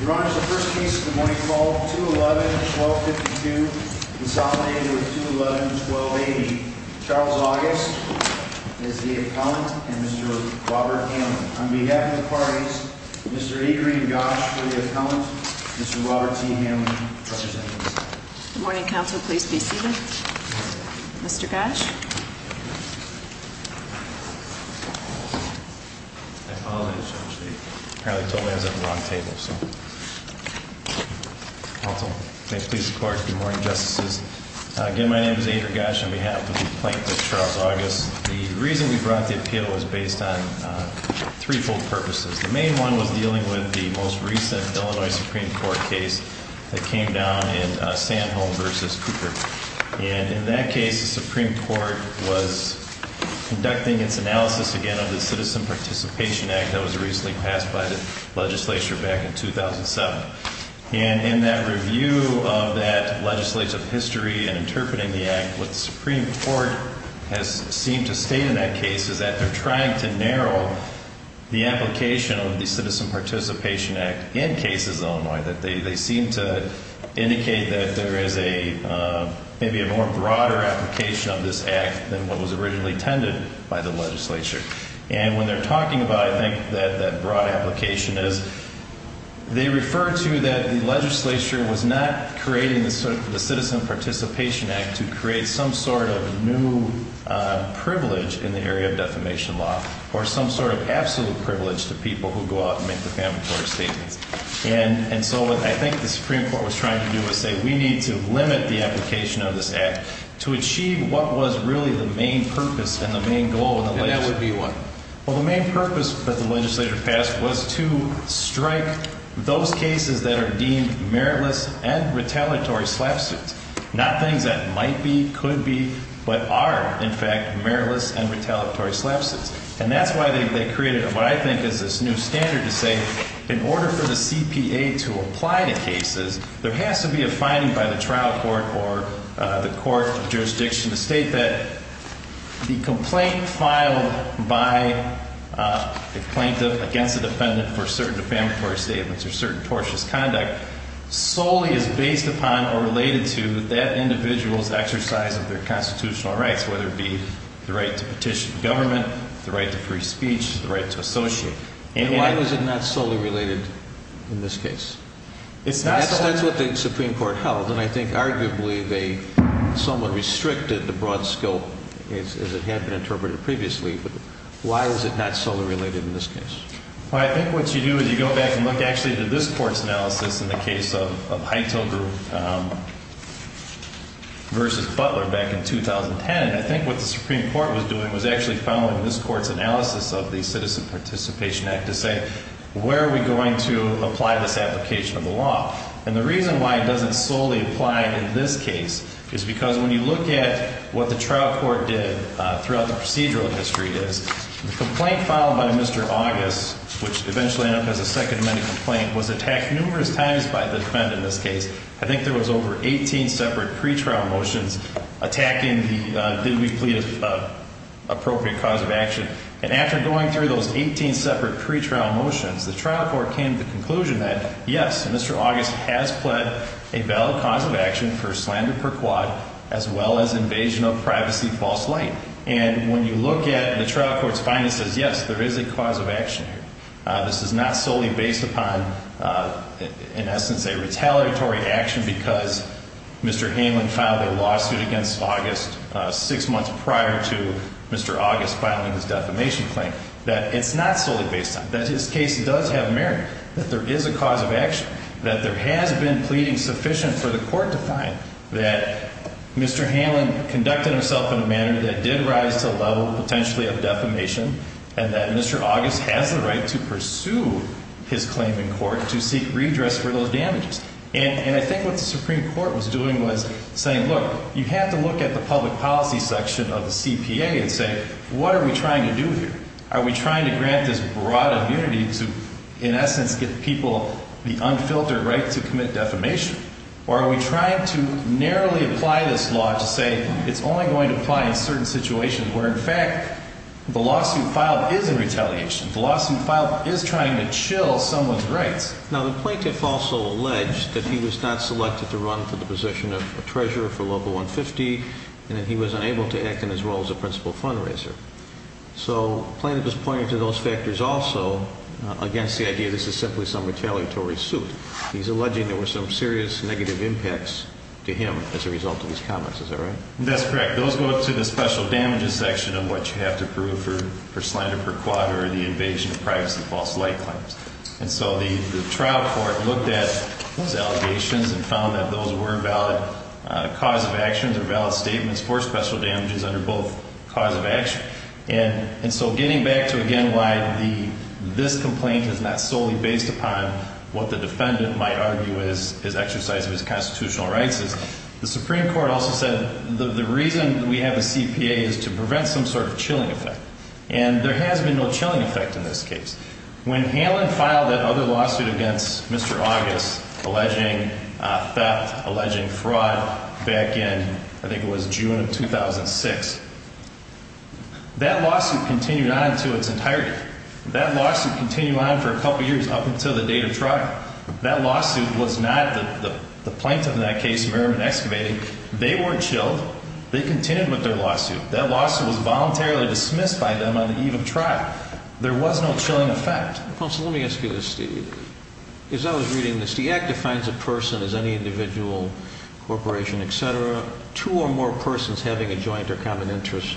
Your Honor, the first case of the morning call, 2-11-1252, consolidated with 2-11-1280, Charles August as the appellant and Mr. Robert Hanlon. On behalf of the parties, Mr. Adrian Gosch for the appellant, Mr. Robert T. Hanlon representing himself. Good morning, counsel. Please be seated. Mr. Gosch? I apologize, Judge, they apparently told me I was at the wrong table, so. Counsel, may it please the Court, good morning, Justices. Again, my name is Adrian Gosch on behalf of the plaintiff, Charles August. The reason we brought the appeal was based on threefold purposes. The main one was dealing with the most recent Illinois Supreme Court case that came down in Sanholm v. Cooper. And in that case, the Supreme Court was conducting its analysis again of the Citizen Participation Act that was recently passed by the legislature back in 2007. And in that review of that legislative history and interpreting the act, what the Supreme Court has seemed to state in that case is that they're trying to narrow the application of the Citizen Participation Act in cases in Illinois. They seem to indicate that there is maybe a more broader application of this act than what was originally intended by the legislature. And when they're talking about, I think, that broad application is, they refer to that the legislature was not creating the Citizen Participation Act to create some sort of new privilege in the area of defamation law or some sort of absolute privilege to people who go out and make defamatory statements. And so what I think the Supreme Court was trying to do was say, we need to limit the application of this act to achieve what was really the main purpose and the main goal of the legislature. And that would be what? Well, the main purpose that the legislature passed was to strike those cases that are deemed meritless and retaliatory slap suits. Not things that might be, could be, but are, in fact, meritless and retaliatory slap suits. And that's why they created what I think is this new standard to say, in order for the CPA to apply to cases, there has to be a finding by the trial court or the court jurisdiction to state that the complaint filed by the plaintiff against the defendant for certain defamatory statements or certain tortious conduct solely is based upon or related to that individual's exercise of their constitutional rights, whether it be the right to petition government, the right to free speech, the right to associate. And why was it not solely related in this case? It's not. That's what the Supreme Court held. And I think arguably they somewhat restricted the broad scope as it had been interpreted previously. But why was it not solely related in this case? Well, I think what you do is you go back and look actually at this court's analysis in the case of Hytel Group versus Butler back in 2010. I think what the Supreme Court was doing was actually following this court's analysis of the Citizen Participation Act to say, where are we going to apply this application of the law? And the reason why it doesn't solely apply in this case is because when you look at what the trial court did throughout the procedural history, the complaint filed by Mr. August, which eventually ended up as a Second Amendment complaint, was attacked numerous times by the defendant in this case. I think there was over 18 separate pretrial motions attacking the did we plead appropriate cause of action. And after going through those 18 separate pretrial motions, the trial court came to the conclusion that, yes, Mr. August has pled a valid cause of action for slander per quad as well as invasion of privacy false light. And when you look at the trial court's findings, it says, yes, there is a cause of action here. This is not solely based upon, in essence, a retaliatory action because Mr. Hamlin filed a lawsuit against August six months prior to Mr. August filing his defamation claim. That it's not solely based on. That his case does have merit. That there is a cause of action. That there has been pleading sufficient for the court to find that Mr. Hamlin conducted himself in a manner that did rise to a level potentially of defamation. And that Mr. August has the right to pursue his claim in court to seek redress for those damages. And I think what the Supreme Court was doing was saying, look, you have to look at the public policy section of the CPA and say, what are we trying to do here? Are we trying to grant this broad immunity to, in essence, give people the unfiltered right to commit defamation? Or are we trying to narrowly apply this law to say it's only going to apply in certain situations where, in fact, the lawsuit filed is in retaliation. The lawsuit filed is trying to chill someone's rights. Now, the plaintiff also alleged that he was not selected to run for the position of treasurer for Local 150. And that he was unable to act in his role as a principal fundraiser. So the plaintiff is pointing to those factors also against the idea this is simply some retaliatory suit. He's alleging there were some serious negative impacts to him as a result of these comments. Is that right? That's correct. Those go up to the special damages section of what you have to prove for slander per quad or the invasion of privacy and false light claims. And so the trial court looked at those allegations and found that those were valid cause of actions or valid statements for special damages under both cause of action and so getting back to again why this complaint is not solely based upon what the defendant might argue is exercise of his constitutional rights. The Supreme Court also said the reason we have a CPA is to prevent some sort of chilling effect. And there has been no chilling effect in this case. When Hanlon filed that other lawsuit against Mr. August alleging theft, alleging fraud back in I think it was June of 2006, that lawsuit continued on to its entirety. That lawsuit continued on for a couple years up until the date of trial. That lawsuit was not the plaintiff in that case, Merriman Excavated. They weren't chilled. They continued with their lawsuit. That lawsuit was voluntarily dismissed by them on the eve of trial. There was no chilling effect. Counsel, let me ask you this, Steve. As I was reading this, the Act defines a person as any individual, corporation, et cetera, two or more persons having a joint or common interest.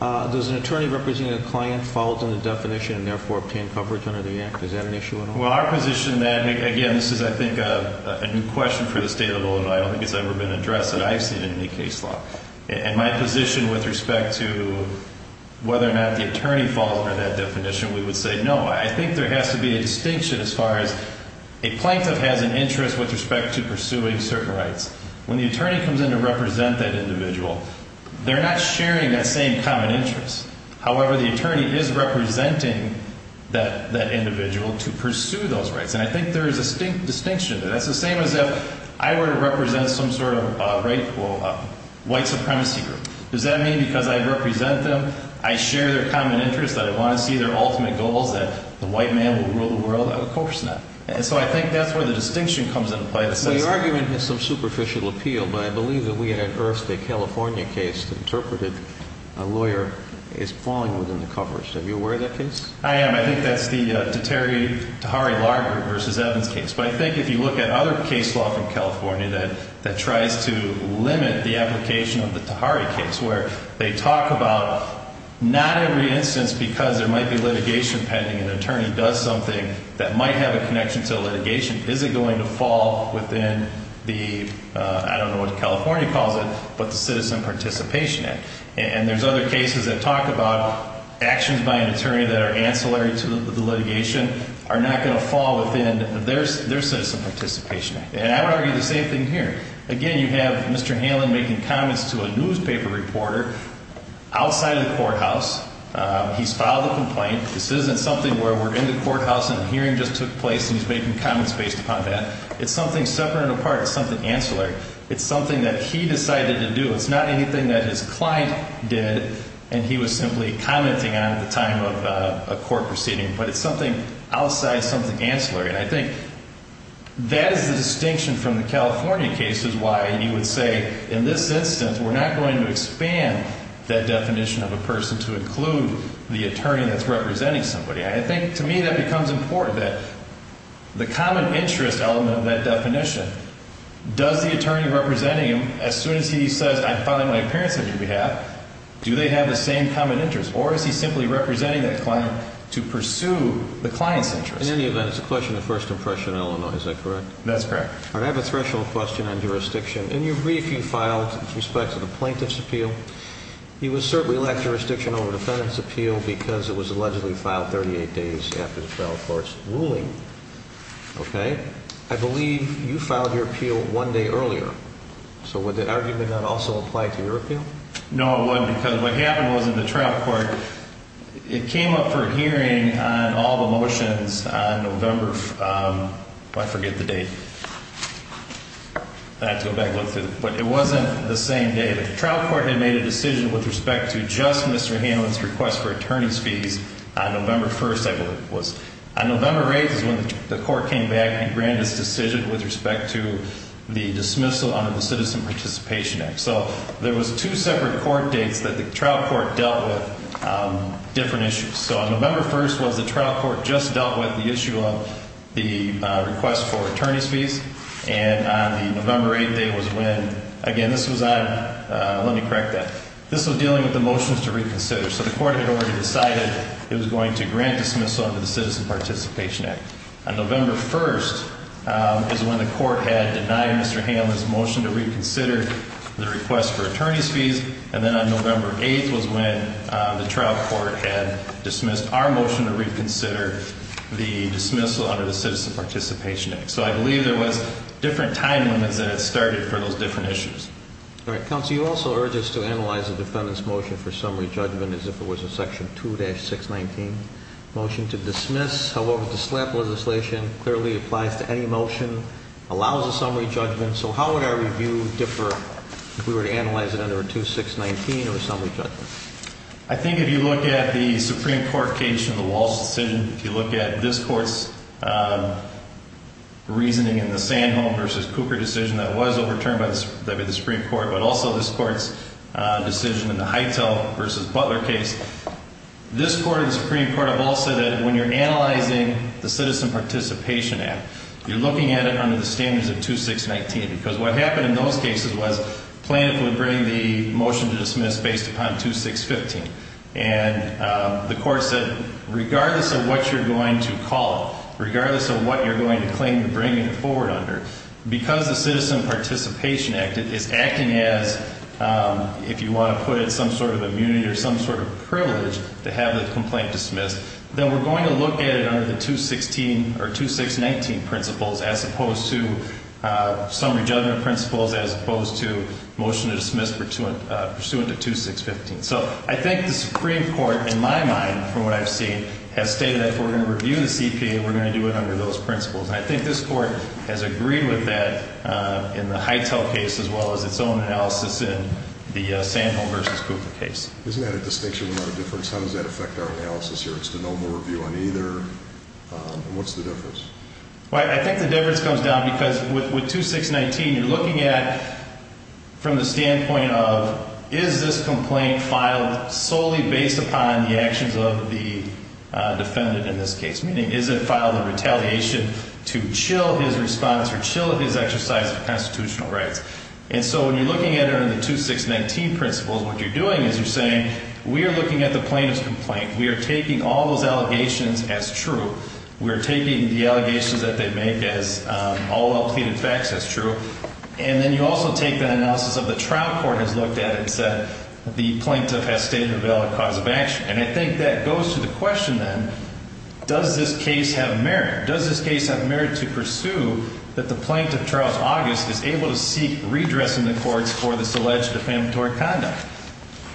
Does an attorney representing a client fall within the definition and therefore obtain coverage under the Act? Is that an issue at all? Well, our position then, again, this is I think a new question for the State of Illinois. I don't think it's ever been addressed that I've seen in any case law. In my position with respect to whether or not the attorney falls under that definition, we would say no. I think there has to be a distinction as far as a plaintiff has an interest with respect to pursuing certain rights. When the attorney comes in to represent that individual, they're not sharing that same common interest. However, the attorney is representing that individual to pursue those rights. And I think there is a distinct distinction. That's the same as if I were to represent some sort of right, well, white supremacy group. Does that mean because I represent them, I share their common interest, that I want to see their ultimate goals, that the white man will rule the world? Of course not. And so I think that's where the distinction comes into play. The argument is some superficial appeal, but I believe that we had unearthed a California case that interpreted a lawyer as falling within the coverage. Are you aware of that case? I am. I think that's the Tahari-Larger v. Evans case. But I think if you look at other case law from California that tries to limit the application of the Tahari case, where they talk about not every instance because there might be litigation pending, an attorney does something that might have a connection to litigation. Is it going to fall within the, I don't know what California calls it, but the Citizen Participation Act? And there's other cases that talk about actions by an attorney that are ancillary to the litigation are not going to fall within their Citizen Participation Act. And I would argue the same thing here. Again, you have Mr. Halen making comments to a newspaper reporter outside of the courthouse. He's filed a complaint. This isn't something where we're in the courthouse and a hearing just took place and he's making comments based upon that. It's something separate and apart. It's something ancillary. It's something that he decided to do. It's not anything that his client did and he was simply commenting on at the time of a court proceeding. But it's something outside, something ancillary. And I think that is the distinction from the California cases why you would say in this instance we're not going to expand that definition of a person to include the attorney that's representing somebody. And I think to me that becomes important that the common interest element of that definition, does the attorney representing him, as soon as he says I'm filing my appearance on your behalf, do they have the same common interest? Or is he simply representing that client to pursue the client's interest? In any event, it's a question of first impression in Illinois. Is that correct? That's correct. I have a threshold question on jurisdiction. In your brief, you filed with respect to the plaintiff's appeal. It was certainly lack of jurisdiction over defendant's appeal because it was allegedly filed 38 days after the trial court's ruling. Okay? I believe you filed your appeal one day earlier. So would the argument not also apply to your appeal? No, it wouldn't because what happened was in the trial court, it came up for a hearing on all the motions on November, I forget the date. I have to go back and look through it. But it wasn't the same day. The trial court had made a decision with respect to just Mr. Hanlon's request for attorney's fees on November 1st, I believe it was. On November 8th is when the court came back and granted this decision with respect to the dismissal under the Citizen Participation Act. So there was two separate court dates that the trial court dealt with different issues. So on November 1st was the trial court just dealt with the issue of the request for attorney's fees. And on the November 8th date was when, again, this was on, let me correct that. This was dealing with the motions to reconsider. So the court had already decided it was going to grant dismissal under the Citizen Participation Act. On November 1st is when the court had denied Mr. Hanlon's motion to reconsider the request for attorney's fees. And then on November 8th was when the trial court had dismissed our motion to reconsider the dismissal under the Citizen Participation Act. So I believe there was different time limits that it started for those different issues. All right. Counsel, you also urge us to analyze the defendant's motion for summary judgment as if it was a Section 2-619 motion to dismiss. However, the SLAP legislation clearly applies to any motion, allows a summary judgment. So how would our review differ if we were to analyze it under a 2-619 or a summary judgment? I think if you look at the Supreme Court case and the Walsh decision, if you look at this court's reasoning in the Sandholm v. Cooper decision that was overturned by the Supreme Court, but also this court's decision in the Hytel v. Butler case, this court and the Supreme Court have all said that when you're analyzing the Citizen Participation Act, you're looking at it under the standards of 2-619. Because what happened in those cases was Plaintiff would bring the motion to dismiss based upon 2-615. And the court said, regardless of what you're going to call it, regardless of what you're going to claim to bring it forward under, because the Citizen Participation Act is acting as, if you want to put it, some sort of immunity or some sort of privilege to have the complaint dismissed, then we're going to look at it under the 2-619 principles as opposed to summary judgment principles, as opposed to motion to dismiss pursuant to 2-615. So I think the Supreme Court, in my mind, from what I've seen, has stated that if we're going to review the CPA, we're going to do it under those principles. And I think this court has agreed with that in the Hytel case as well as its own analysis in the Sandholm v. Cooper case. Isn't that a distinction without a difference? How does that affect our analysis here? It's the normal review on either. What's the difference? Well, I think the difference comes down because with 2-619, you're looking at, from the standpoint of, is this complaint filed solely based upon the actions of the defendant in this case? Meaning, is it filed in retaliation to chill his response or chill his exercise of constitutional rights? And so when you're looking at it under the 2-619 principles, what you're doing is you're saying, we are looking at the plaintiff's complaint. We are taking all those allegations as true. We are taking the allegations that they make as all well-pleaded facts as true. And then you also take that analysis of the trial court has looked at and said the plaintiff has stated a valid cause of action. And I think that goes to the question then, does this case have merit? Does this case have merit to pursue that the plaintiff, Charles August, is able to seek redressing the courts for this alleged defamatory conduct?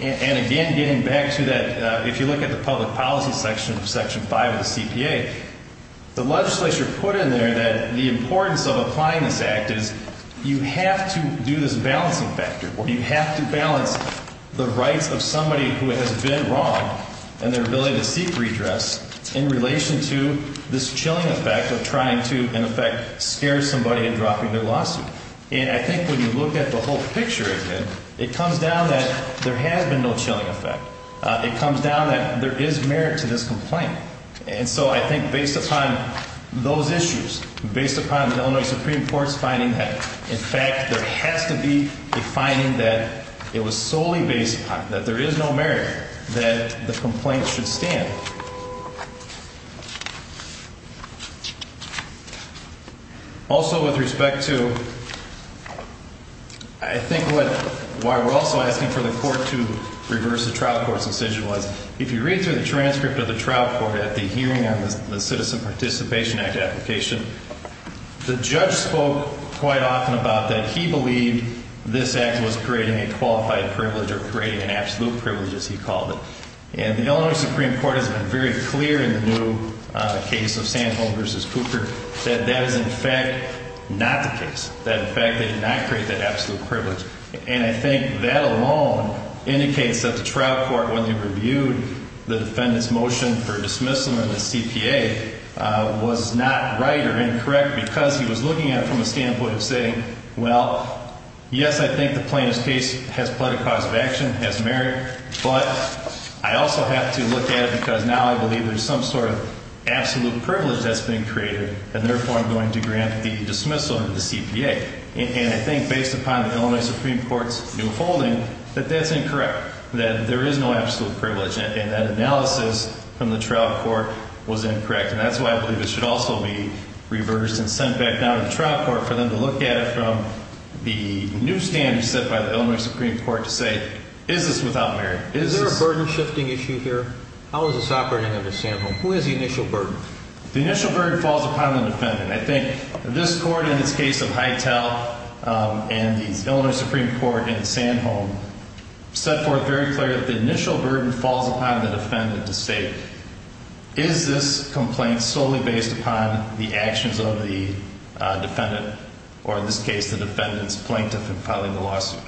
And again, getting back to that, if you look at the public policy section of Section 5 of the CPA, the legislature put in there that the importance of applying this act is you have to do this balancing factor where you have to balance the rights of somebody who has been wronged and their ability to seek redress in relation to this chilling effect of trying to, in effect, scare somebody in dropping their lawsuit. And I think when you look at the whole picture again, it comes down that there has been no chilling effect. It comes down that there is merit to this complaint. And so I think based upon those issues, based upon the Illinois Supreme Court's finding that, in fact, there has to be a finding that it was solely based upon, that there is no merit that the complaint should stand. Also, with respect to, I think what, why we're also asking for the court to reverse the trial court's decision was, if you read through the transcript of the trial court at the hearing on the Citizen Participation Act application, the judge spoke quite often about that he believed this act was creating a qualified privilege or creating an absolute privilege, as he called it. And the Illinois Supreme Court has been very clear in the new case of Sandholm v. Cooper that that is, in fact, not the case. That, in fact, they did not create that absolute privilege. And I think that alone indicates that the trial court, when they reviewed the defendant's motion for dismissal in the CPA, was not right or incorrect because he was looking at it from a standpoint of saying, well, yes, I think the plaintiff's case has pled a cause of action, has merit, but I also have to look at it because now I believe there's some sort of absolute privilege that's been created, and therefore I'm going to grant the dismissal to the CPA. And I think based upon the Illinois Supreme Court's new holding that that's incorrect, that there is no absolute privilege, and that analysis from the trial court was incorrect. And that's why I believe it should also be reversed and sent back down to the trial court for them to look at it from the new standpoint set by the Illinois Supreme Court to say, is this without merit? Is there a burden-shifting issue here? How is this operating under Sandholm? Who has the initial burden? The initial burden falls upon the defendant. I think this court in its case of Hytel and the Illinois Supreme Court in Sandholm set forth very clear that the initial burden falls upon the defendant to say, is this complaint solely based upon the actions of the defendant, or in this case the defendant's plaintiff in filing the lawsuit?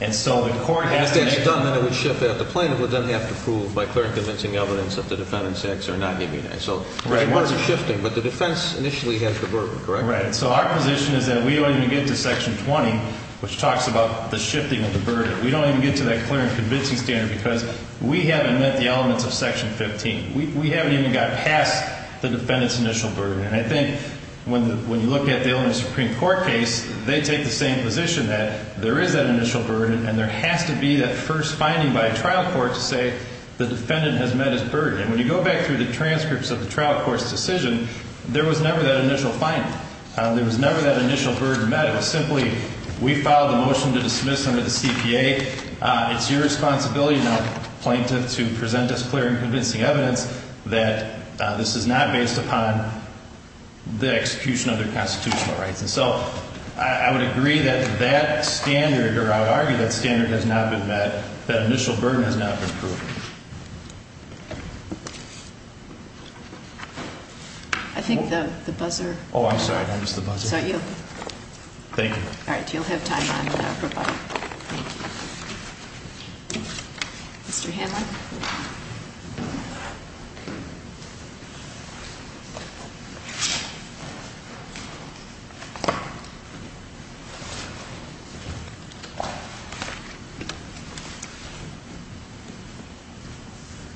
And so the court has to make... If that's done, then it would shift out. The plaintiff would then have to prove by clear and convincing evidence that the defendant's acts are not immune. So there's a lot of shifting, but the defense initially has the burden, correct? Right. So our position is that we don't even get to Section 20, which talks about the shifting of the burden. We don't even get to that clear and convincing standard because we haven't met the elements of Section 15. We haven't even got past the defendant's initial burden. And I think when you look at the Illinois Supreme Court case, they take the same position that there is that initial burden, and there has to be that first finding by a trial court to say the defendant has met his burden. And when you go back through the transcripts of the trial court's decision, there was never that initial finding. There was never that initial burden met. We filed a motion to dismiss under the CPA. It's your responsibility now, plaintiff, to present us clear and convincing evidence that this is not based upon the execution of their constitutional rights. And so I would agree that that standard, or I would argue that standard has not been met, that initial burden has not been proved. I think the buzzer. Oh, I'm sorry. I missed the buzzer. Is that you? Thank you. All right. You'll have time on that, everybody. Thank you. Mr. Hanlon.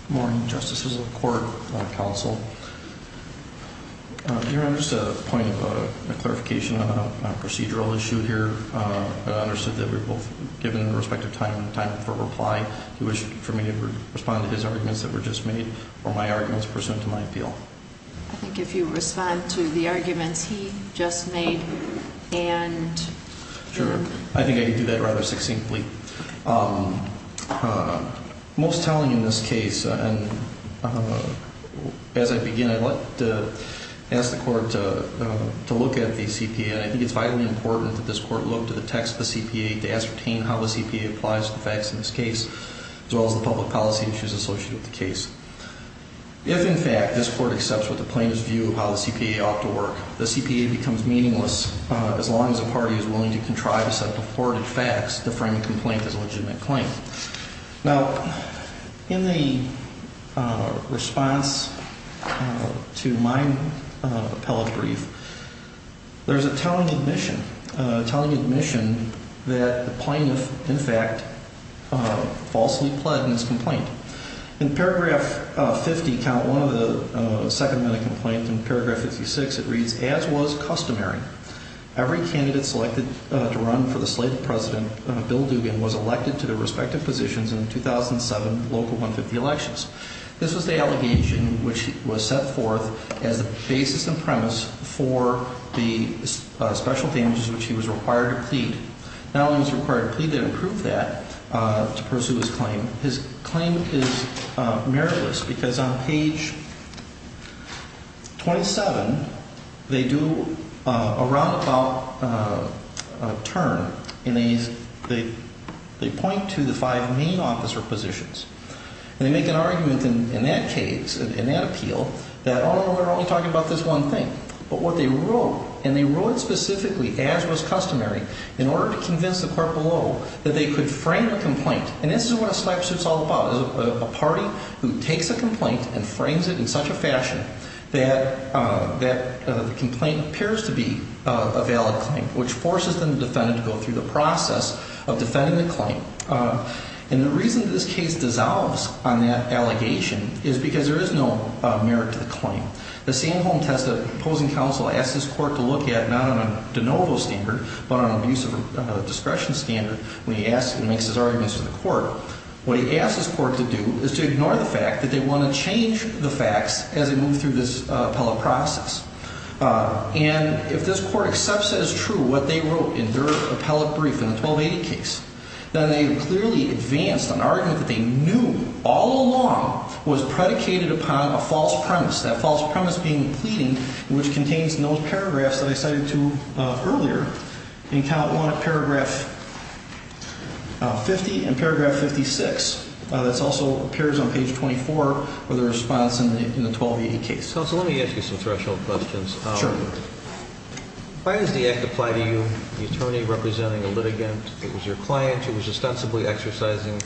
Good morning, Justices of the Court, Counsel. Your Honor, just a point of clarification on a procedural issue here. I understood that we were both given the respective time for reply. Do you wish for me to respond to his arguments that were just made, or my arguments pursuant to my appeal? I think if you respond to the arguments he just made and him. Sure. I think I can do that rather succinctly. Most telling in this case, and as I begin, I'd like to ask the Court to look at the CPA, and I think it's vitally important that this Court look to the text of the CPA to ascertain how the CPA applies to the facts in this case, as well as the public policy issues associated with the case. If, in fact, this Court accepts what the plaintiffs view of how the CPA ought to work, the CPA becomes meaningless as long as a party is willing to contrive a set of reported facts to frame a complaint as a legitimate claim. Now, in the response to my appellate brief, there's a telling admission, a telling admission that the plaintiff, in fact, falsely pled in his complaint. In paragraph 50, count one of the second minute complaints in paragraph 56, it reads, As was customary, every candidate selected to run for the slate of president, Bill Dugan, was elected to their respective positions in the 2007 local 150 elections. This was the allegation which was set forth as the basis and premise for the special damages which he was required to plead. Not only was he required to plead to improve that, to pursue his claim, his claim is meritless because on page 27, they do a roundabout turn. They point to the five main officer positions. They make an argument in that case, in that appeal, that, oh, we're only talking about this one thing. But what they wrote, and they wrote it specifically, as was customary, in order to convince the court below that they could frame a complaint. And this is what a sniper suit is all about, is a party who takes a complaint and frames it in such a fashion that the complaint appears to be a valid claim, which forces the defendant to go through the process of defending the claim. And the reason this case dissolves on that allegation is because there is no merit to the claim. The Sam Holm test opposing counsel asked his court to look at, not on a de novo standard, but on an abuse of discretion standard, when he asks and makes his arguments to the court, what he asks his court to do is to ignore the fact that they want to change the facts as they move through this appellate process. And if this court accepts as true what they wrote in their appellate brief in the 1280 case, then they clearly advanced an argument that they knew all along was predicated upon a false premise, that false premise being pleading, which contains those paragraphs that I cited to you earlier in paragraph 50 and paragraph 56. That also appears on page 24 of the response in the 1280 case. Counsel, let me ask you some threshold questions. Sure. Why does the act apply to you, the attorney representing a litigant? It was your client who was ostensibly exercising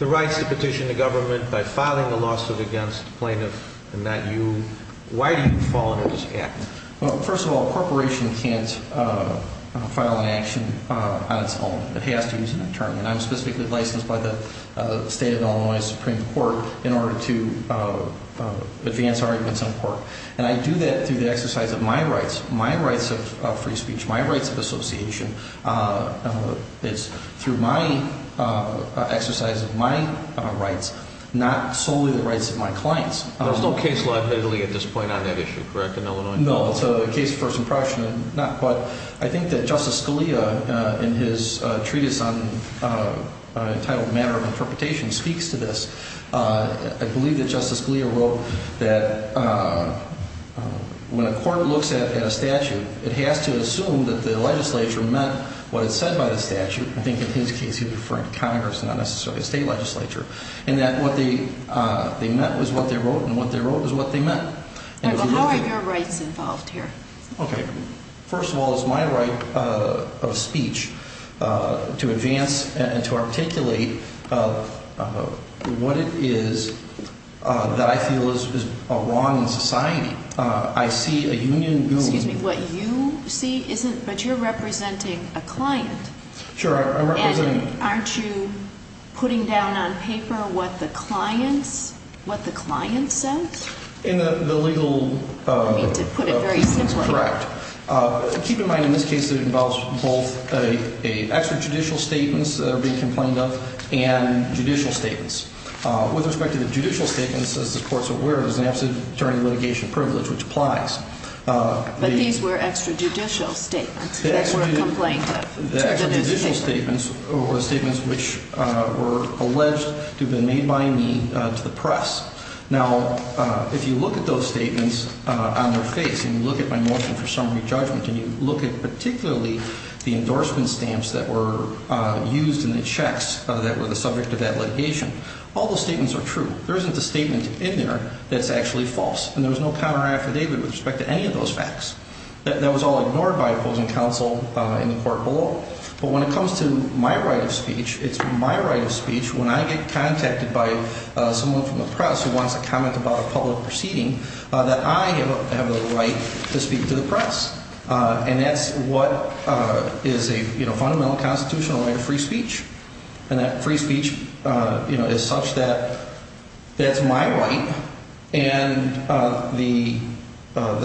the rights to petition the government by filing a lawsuit against the plaintiff and not you. Why do you fall under this act? Well, first of all, a corporation can't file an action on its own. It has to use an attorney, and I'm specifically licensed by the state of Illinois Supreme Court in order to advance arguments in court. And I do that through the exercise of my rights, my rights of free speech, my rights of association. It's through my exercise of my rights, not solely the rights of my clients. There's no case law admittedly at this point on that issue, correct, in Illinois? No, it's a case of first impression. But I think that Justice Scalia in his treatise entitled Matter of Interpretation speaks to this. I believe that Justice Scalia wrote that when a court looks at a statute, it has to assume that the legislature meant what it said by the statute. I think in his case he was referring to Congress, not necessarily the state legislature. And that what they meant was what they wrote, and what they wrote was what they meant. How are your rights involved here? Okay. First of all, it's my right of speech to advance and to articulate what it is that I feel is wrong in society. I see a union goon. Excuse me, what you see isn't, but you're representing a client. Sure, I'm representing. And aren't you putting down on paper what the clients, what the client said? In the legal. I mean to put it very simply. Correct. Keep in mind in this case it involves both extrajudicial statements that are being complained of and judicial statements. With respect to the judicial statements, as the court's aware, there's an absent attorney litigation privilege, which applies. But these were extrajudicial statements that were complained of. The extrajudicial statements were statements which were alleged to have been made by me to the press. Now, if you look at those statements on their face, and you look at my motion for summary judgment, and you look at particularly the endorsement stamps that were used in the checks that were the subject of that litigation, all those statements are true. There isn't a statement in there that's actually false. And there was no counter affidavit with respect to any of those facts. That was all ignored by opposing counsel in the court below. But when it comes to my right of speech, it's my right of speech when I get contacted by someone from the press who wants to comment about a public proceeding, that I have the right to speak to the press. And that's what is a fundamental constitutional right of free speech. And that free speech is such that that's my right. And the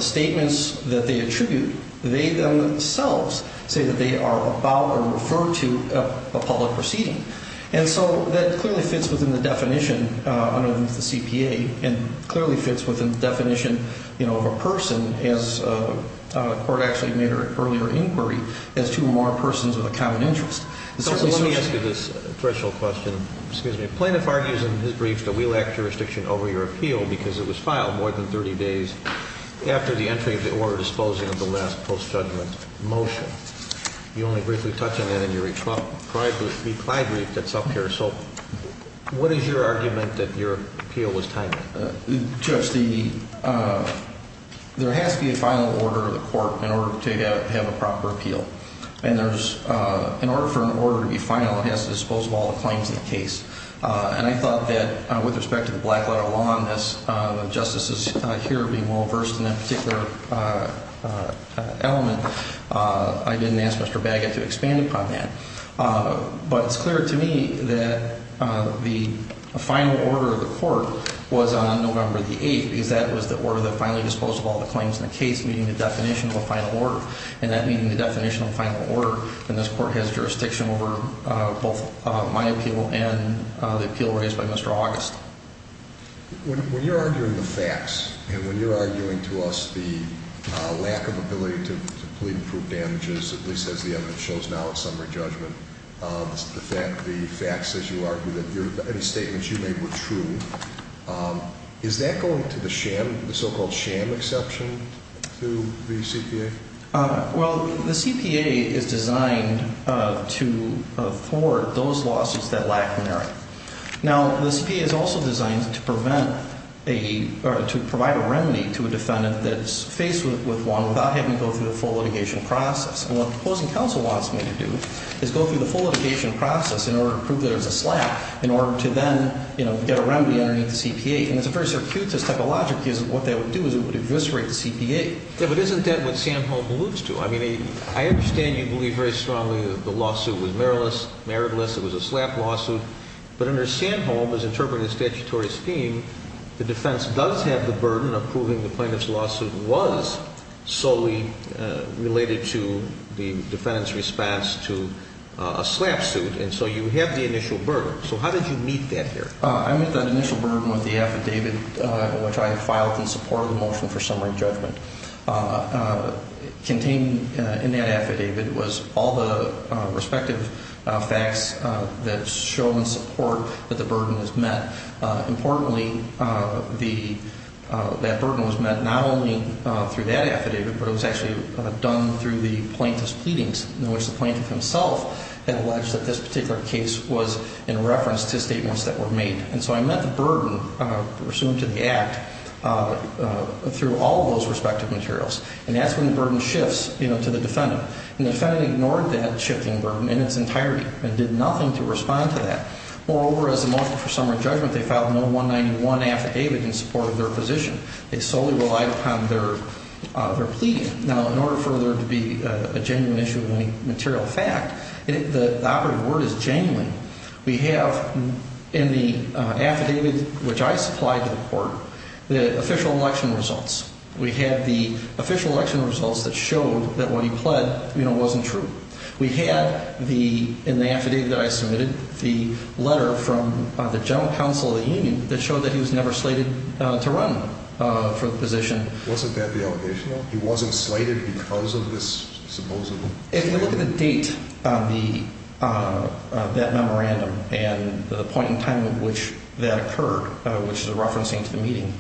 statements that they attribute, they themselves say that they are about or refer to a public proceeding. And so that clearly fits within the definition under the CPA and clearly fits within the definition of a person, as the court actually made an earlier inquiry, as two or more persons with a common interest. Let me ask you this threshold question. Excuse me. Plaintiff argues in his brief that we lack jurisdiction over your appeal because it was filed more than 30 days after the entry of the order disposing of the last post-judgment motion. You only briefly touched on that in your reply brief that's up here. So what is your argument that your appeal was timely? Judge, there has to be a final order of the court in order to have a proper appeal. And in order for an order to be final, it has to dispose of all the claims in the case. And I thought that with respect to the black letter law and this, the justices here being more versed in that particular element, I didn't ask Mr. Baggett to expand upon that. But it's clear to me that the final order of the court was on November the 8th because that was the order that finally disposed of all the claims in the case, meeting the definition of a final order. And that meeting the definition of a final order, and this court has jurisdiction over both my appeal and the appeal raised by Mr. August. When you're arguing the facts and when you're arguing to us the lack of ability to plead and prove damages, at least as the evidence shows now in summary judgment, the facts as you argue that any statements you made were true, is that going to the sham, the so-called sham exception to the CPA? Well, the CPA is designed to afford those lawsuits that lack merit. Now, the CPA is also designed to prevent a, or to provide a remedy to a defendant that's faced with one without having to go through the full litigation process. And what the opposing counsel wants me to do is go through the full litigation process in order to prove there's a slap in order to then, you know, get a remedy underneath the CPA. And it's a very circuitous type of logic because what that would do is it would eviscerate the CPA. Yeah, but isn't that what Sanholm alludes to? I mean, I understand you believe very strongly that the lawsuit was meritless. It was a slap lawsuit. But under Sanholm, as interpreted in statutory scheme, the defense does have the burden of proving the plaintiff's lawsuit was solely related to the defendant's response to a slap suit. And so you have the initial burden. So how did you meet that here? I met that initial burden with the affidavit which I filed in support of the motion for summary judgment. Contained in that affidavit was all the respective facts that show in support that the burden was met. Importantly, that burden was met not only through that affidavit, but it was actually done through the plaintiff's pleadings in which the plaintiff himself had alleged that this particular case was in reference to statements that were made. And so I met the burden pursuant to the act through all of those respective materials. And that's when the burden shifts, you know, to the defendant. And the defendant ignored that shifting burden in its entirety and did nothing to respond to that. Moreover, as a motion for summary judgment, they filed no 191 affidavit in support of their position. They solely relied upon their pleading. Now, in order for there to be a genuine issue of any material fact, the operative word is genuine. We have in the affidavit which I supplied to the court the official election results. We had the official election results that showed that what he pled, you know, wasn't true. We had in the affidavit that I submitted the letter from the general counsel of the union that showed that he was never slated to run for the position. Wasn't that the allegation? No. He wasn't slated because of this supposable? If you look at the date of that memorandum and the point in time at which that occurred, which is a reference into the meeting,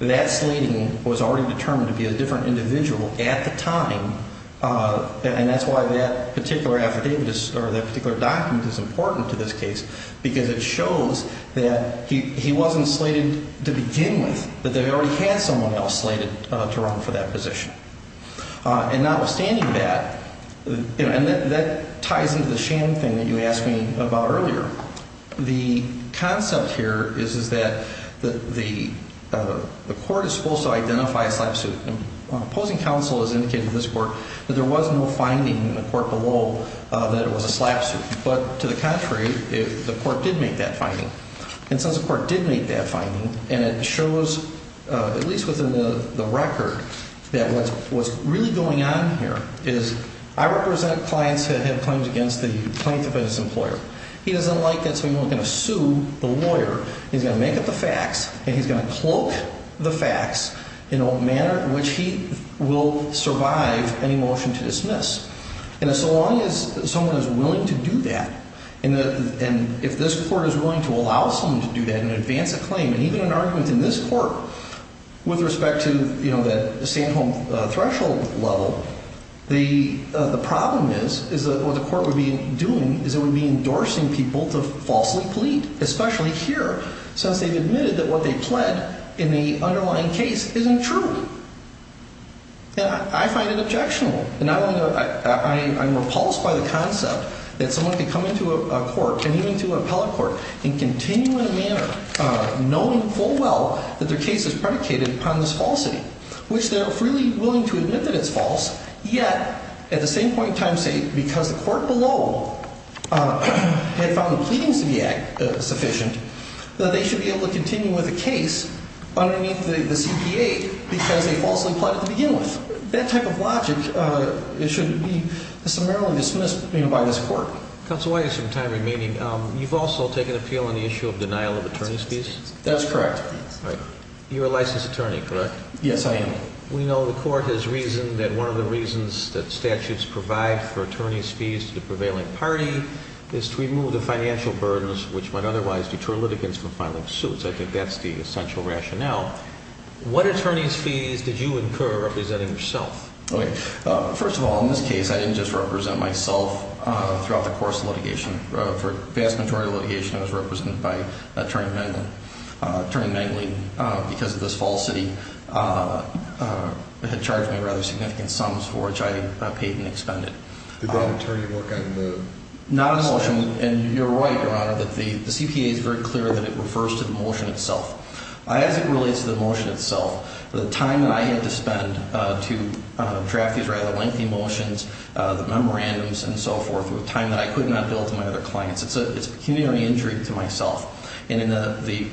that slating was already determined to be a different individual at the time. And that's why that particular affidavit or that particular document is important to this case, because it shows that he wasn't slated to begin with, that they already had someone else slated to run for that position. And notwithstanding that, you know, and that ties into the sham thing that you asked me about earlier. The concept here is that the court is supposed to identify a slap suit. Opposing counsel has indicated to this court that there was no finding in the court below that it was a slap suit. But to the contrary, the court did make that finding. And since the court did make that finding, and it shows, at least within the record, that what's really going on here is I represent clients that have claims against the plaintiff and his employer. He doesn't like that, so he's not going to sue the lawyer. He's going to make up the facts, and he's going to cloak the facts in a manner in which he will survive any motion to dismiss. And so long as someone is willing to do that, and if this court is willing to allow someone to do that and advance a claim, and even an argument in this court with respect to, you know, the stay-at-home threshold level, the problem is that what the court would be doing is it would be endorsing people to falsely plead, especially here since they've admitted that what they pled in the underlying case isn't true. And I find it objectionable. And not only that, I'm repulsed by the concept that someone could come into a court, and even to an appellate court, and continue in a manner, knowing full well that their case is predicated upon this falsity, which they're freely willing to admit that it's false, yet at the same point in time say, because the court below had found the pleadings to be sufficient, that they should be able to continue with the case underneath the CPA because they falsely pled at the begin with. That type of logic, it should be summarily dismissed, you know, by this court. Counsel, I have some time remaining. You've also taken appeal on the issue of denial of attorney's fees? That's correct. You're a licensed attorney, correct? Yes, I am. We know the court has reasoned that one of the reasons that statutes provide for attorney's fees to the prevailing party is to remove the financial burdens which might otherwise deter litigants from filing suits. I think that's the essential rationale. What attorney's fees did you incur representing yourself? First of all, in this case, I didn't just represent myself throughout the course of litigation. For the vast majority of litigation, I was represented by Attorney Mengley. Attorney Mengley, because of this falsity, had charged me rather significant sums for which I paid and expended. Did that attorney work on the motion? Not on the motion. And you're right, Your Honor, that the CPA is very clear that it refers to the motion itself. As it relates to the motion itself, the time that I had to spend to draft these rather lengthy motions, the memorandums and so forth, were a time that I could not bill to my other clients. It's a pecuniary injury to myself. And in the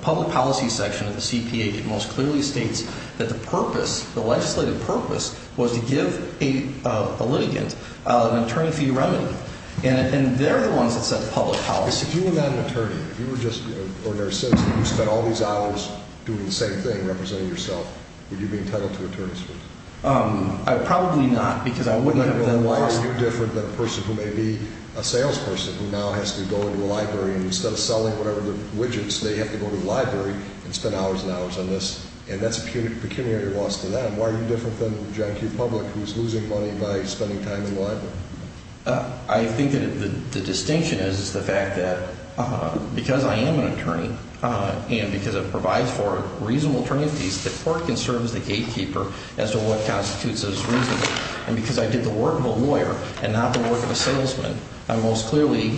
public policy section of the CPA, it most clearly states that the purpose, the legislative purpose, was to give a litigant an attorney fee remedy. And they're the ones that set the public policy. If you were not an attorney, if you were just an ordinary citizen, you spent all these hours doing the same thing representing yourself, would you be entitled to attorney's fees? Probably not, because I wouldn't have then lost them. Why are you different than a person who may be a salesperson who now has to go into a library, and instead of selling whatever the widgets, they have to go to the library and spend hours and hours on this? And that's a pecuniary loss to them. Why are you different than John Q. Public, who's losing money by spending time in the library? I think that the distinction is the fact that because I am an attorney, and because it provides for reasonable attorney fees, the court can serve as the gatekeeper as to what constitutes as reasonable. And because I did the work of a lawyer and not the work of a salesman, I'm most clearly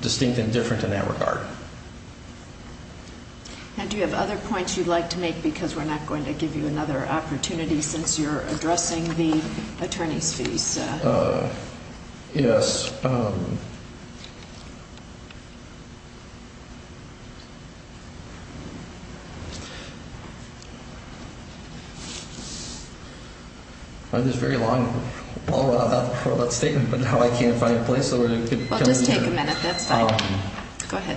distinct and different in that regard. And do you have other points you'd like to make, because we're not going to give you another opportunity since you're addressing the attorney's fees? Yes. This is a very long statement, but now I can't find a place where I could come to a conclusion. Just take a minute. That's fine. Go ahead.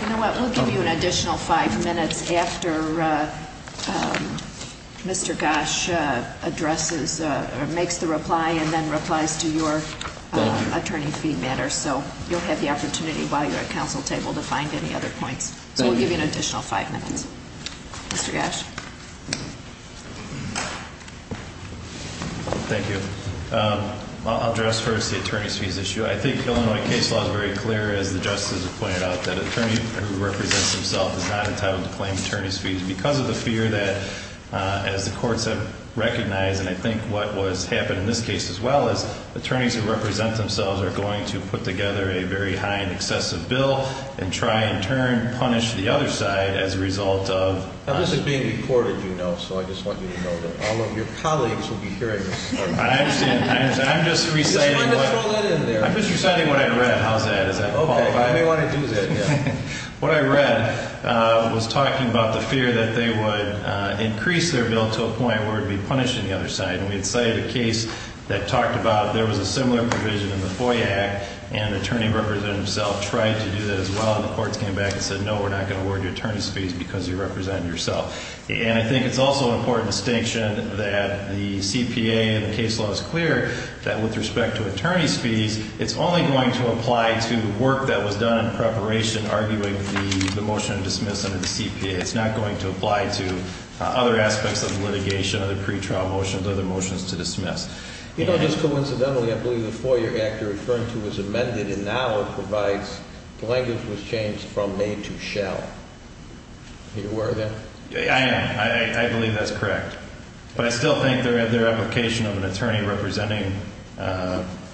You know what? We'll give you an additional five minutes after Mr. Gash makes the reply and then replies to your attorney fee matter. So you'll have the opportunity while you're at council table to find any other points. So we'll give you an additional five minutes. Mr. Gash. Thank you. I'll address first the attorney's fees issue. I think Illinois case law is very clear, as the justices have pointed out, that an attorney who represents himself is not entitled to claim attorney's fees because of the fear that, as the courts have recognized and I think what has happened in this case as well, is attorneys who represent themselves are going to put together a very high and excessive bill and try in turn to punish the other side as a result of Now this is being recorded, you know, so I just want you to know that all of your colleagues will be hearing this. I understand. I'm just reciting what I read. How's that? Does that qualify? I may want to do that, yes. What I read was talking about the fear that they would increase their bill to a point where it would be punished on the other side. And we had cited a case that talked about there was a similar provision in the FOIA Act and an attorney representing himself tried to do that as well and the courts came back and said, No, we're not going to award you attorney's fees because you represent yourself. And I think it's also an important distinction that the CPA and the case law is clear that with respect to attorney's fees, it's only going to apply to work that was done in preparation arguing the motion to dismiss under the CPA. It's not going to apply to other aspects of litigation, other pretrial motions, other motions to dismiss. You know, just coincidentally, I believe the FOIA Act you're referring to was amended and now provides the language was changed from made to shall. Are you aware of that? I am. I believe that's correct. But I still think their application of an attorney representing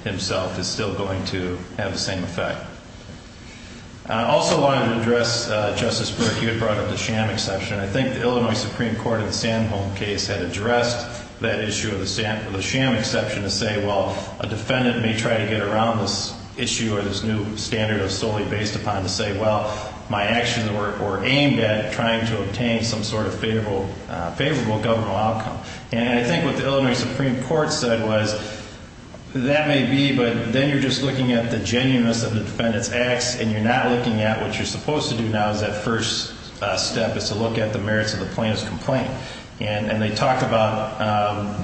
himself is still going to have the same effect. I also wanted to address, Justice Burke, you had brought up the sham exception. I think the Illinois Supreme Court in the Sanholm case had addressed that issue of the sham exception to say, Well, a defendant may try to get around this issue or this new standard solely based upon to say, Well, my actions were aimed at trying to obtain some sort of favorable governmental outcome. And I think what the Illinois Supreme Court said was that may be, but then you're just looking at the genuineness of the defendant's acts and you're not looking at what you're supposed to do now is that first step is to look at the merits of the plaintiff's complaint. And they talked about,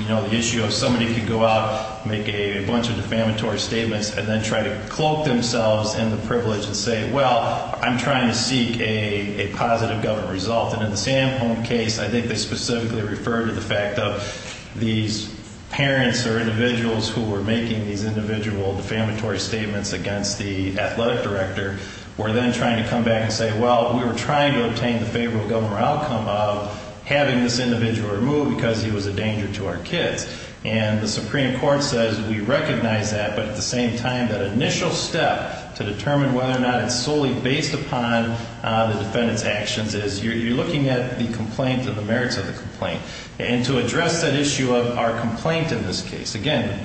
you know, the issue of somebody could go out, make a bunch of defamatory statements, and then try to cloak themselves in the privilege and say, Well, I'm trying to seek a positive government result. And in the Sanholm case, I think they specifically referred to the fact of these parents or individuals who were making these individual defamatory statements against the athletic director were then trying to come back and say, Well, we were trying to obtain the favorable government outcome of having this individual removed because he was a danger to our kids. And the Supreme Court says we recognize that. But at the same time, that initial step to determine whether or not it's solely based upon the defendant's actions is you're looking at the complaint and the merits of the complaint. And to address that issue of our complaint in this case, again,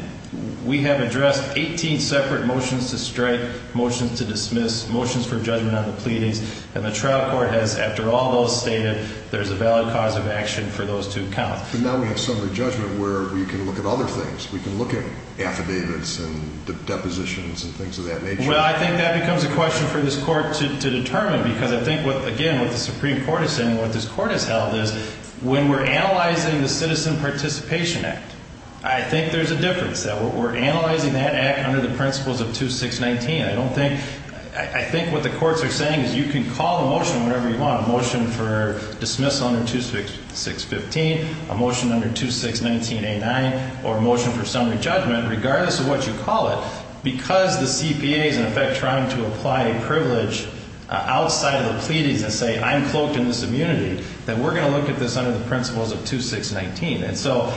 we have addressed 18 separate motions to strike, motions to dismiss, motions for judgment on the pleadings. And the trial court has, after all those stated, there's a valid cause of action for those to count. But now we have summary judgment where we can look at other things. We can look at affidavits and depositions and things of that nature. Well, I think that becomes a question for this court to determine because I think what, again, what the Supreme Court is saying, what this court has held is when we're analyzing the Citizen Participation Act, I think there's a difference. We're analyzing that act under the principles of 2619. I don't think, I think what the courts are saying is you can call a motion whenever you want, a motion for dismissal under 2615, a motion under 2619A9, or a motion for summary judgment, regardless of what you call it. Because the CPA is, in effect, trying to apply a privilege outside of the pleadings and say, I'm cloaked in this immunity, that we're going to look at this under the principles of 2619. And so...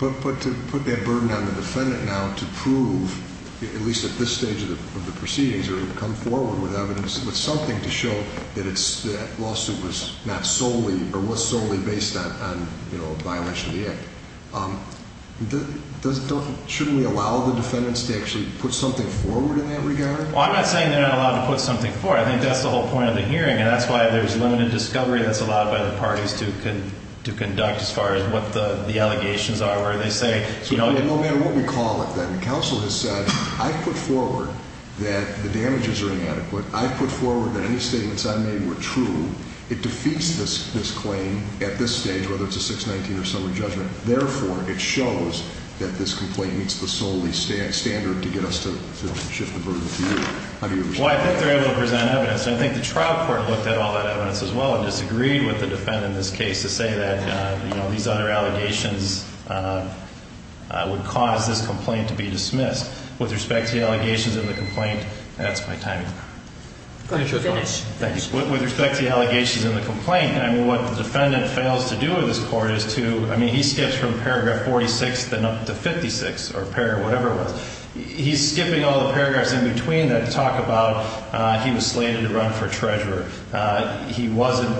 But to put that burden on the defendant now to prove, at least at this stage of the proceedings, or come forward with evidence, with something to show that it's, that lawsuit was not solely, or was solely based on, you know, a violation of the act. Shouldn't we allow the defendants to actually put something forward in that regard? Well, I'm not saying they're not allowed to put something forward. I think that's the whole point of the hearing, and that's why there's limited discovery that's allowed by the parties to conduct, as far as what the allegations are, where they say, you know... No matter what we call it, then. The counsel has said, I've put forward that the damages are inadequate. I've put forward that any statements I made were true. It defeats this claim at this stage, whether it's a 619 or similar judgment. Therefore, it shows that this complaint meets the solely standard to get us to shift the burden to you. How do you respond? Well, I think they're able to present evidence, and I think the trial court looked at all that evidence as well and disagreed with the defendant in this case to say that, you know, these other allegations would cause this complaint to be dismissed. With respect to the allegations in the complaint, that's my time. Go ahead, Judge Arnold. Thanks. With respect to the allegations in the complaint, I mean, what the defendant fails to do in this court is to... I mean, he skips from paragraph 46 to 56, or whatever it was. He's skipping all the paragraphs in between that talk about he was slated to run for treasurer. He wasn't,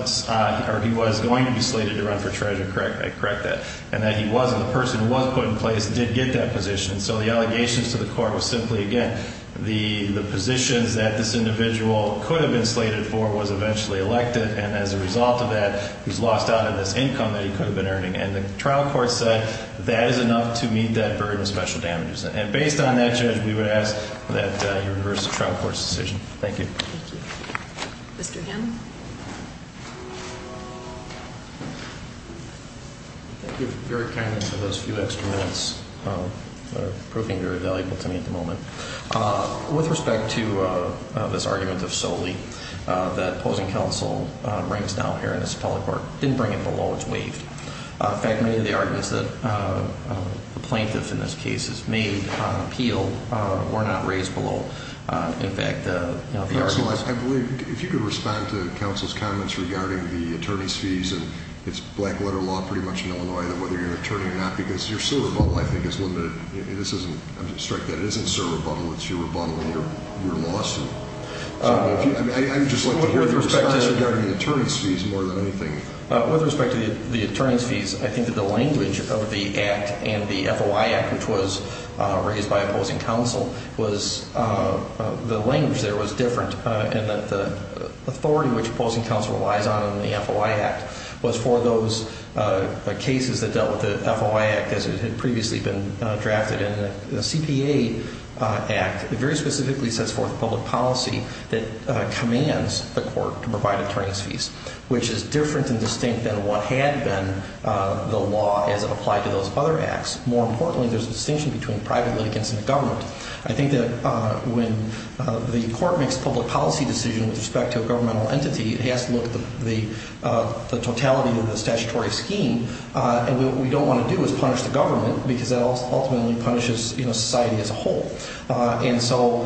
or he was going to be slated to run for treasurer. Correct that. And that he wasn't. The person who was put in place did get that position. So the allegations to the court was simply, again, the positions that this individual could have been slated for was eventually elected, and as a result of that, he's lost out on this income that he could have been earning. And the trial court said that is enough to meet that burden of special damages. And based on that, Judge, we would ask that you reverse the trial court's decision. Thank you. Thank you. Mr. Hammond. Thank you very kindly for those few extra minutes. They're proving very valuable to me at the moment. With respect to this argument of Soli that opposing counsel brings down here in this appellate court, didn't bring it below. It's waived. In fact, many of the arguments that the plaintiff in this case has made on appeal were not raised below. If you could respond to counsel's comments regarding the attorney's fees, and it's black-letter law pretty much in Illinois whether you're an attorney or not, because your civil rebuttal, I think, is limited. I'm going to strike that. It isn't civil rebuttal. It's your rebuttal, and you're lost. I'd just like to hear your response regarding the attorney's fees more than anything. With respect to the attorney's fees, I think that the language of the Act and the FOI Act, which was raised by opposing counsel, was the language there was different in that the authority which opposing counsel relies on in the FOI Act was for those cases that dealt with the FOI Act, as it had previously been drafted in the CPA Act. It very specifically sets forth public policy that commands the court to provide attorney's fees, which is different and distinct than what had been the law as it applied to those other acts. More importantly, there's a distinction between private litigants and the government. I think that when the court makes a public policy decision with respect to a governmental entity, it has to look at the totality of the statutory scheme, and what we don't want to do is punish the government because that ultimately punishes society as a whole. And so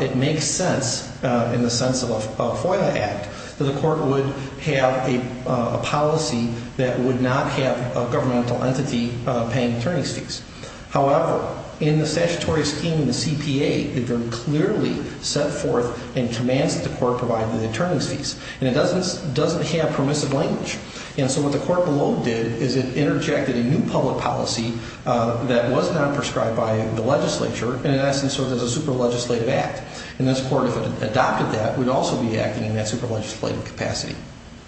it makes sense in the sense of a FOI Act that a court would have a policy that would not have a governmental entity paying attorney's fees. However, in the statutory scheme in the CPA, it very clearly set forth and commands that the court provide the attorney's fees, and it doesn't have permissive language. And so what the court below did is it interjected a new public policy that was not prescribed by the legislature, and in essence serves as a super legislative act. And this court, if it adopted that, would also be acting in that super legislative capacity.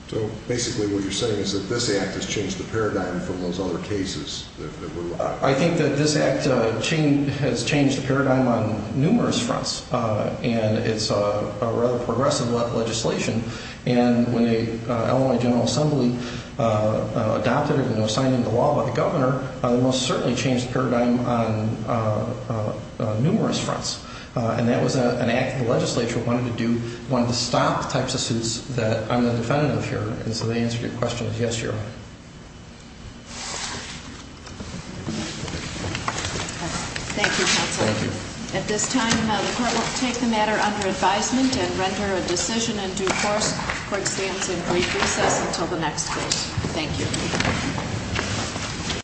So basically what you're saying is that this act has changed the paradigm from those other cases? I think that this act has changed the paradigm on numerous fronts, and it's a rather progressive legislation. And when the Illinois General Assembly adopted it and it was signed into law by the governor, it most certainly changed the paradigm on numerous fronts. And that was an act the legislature wanted to do, wanted to stop the types of suits that I'm the defendant of here. And so the answer to your question is yes, Your Honor. Thank you, counsel. Thank you. At this time, the court will take the matter under advisement and render a decision in due course. The court stands in brief recess until the next case. Thank you.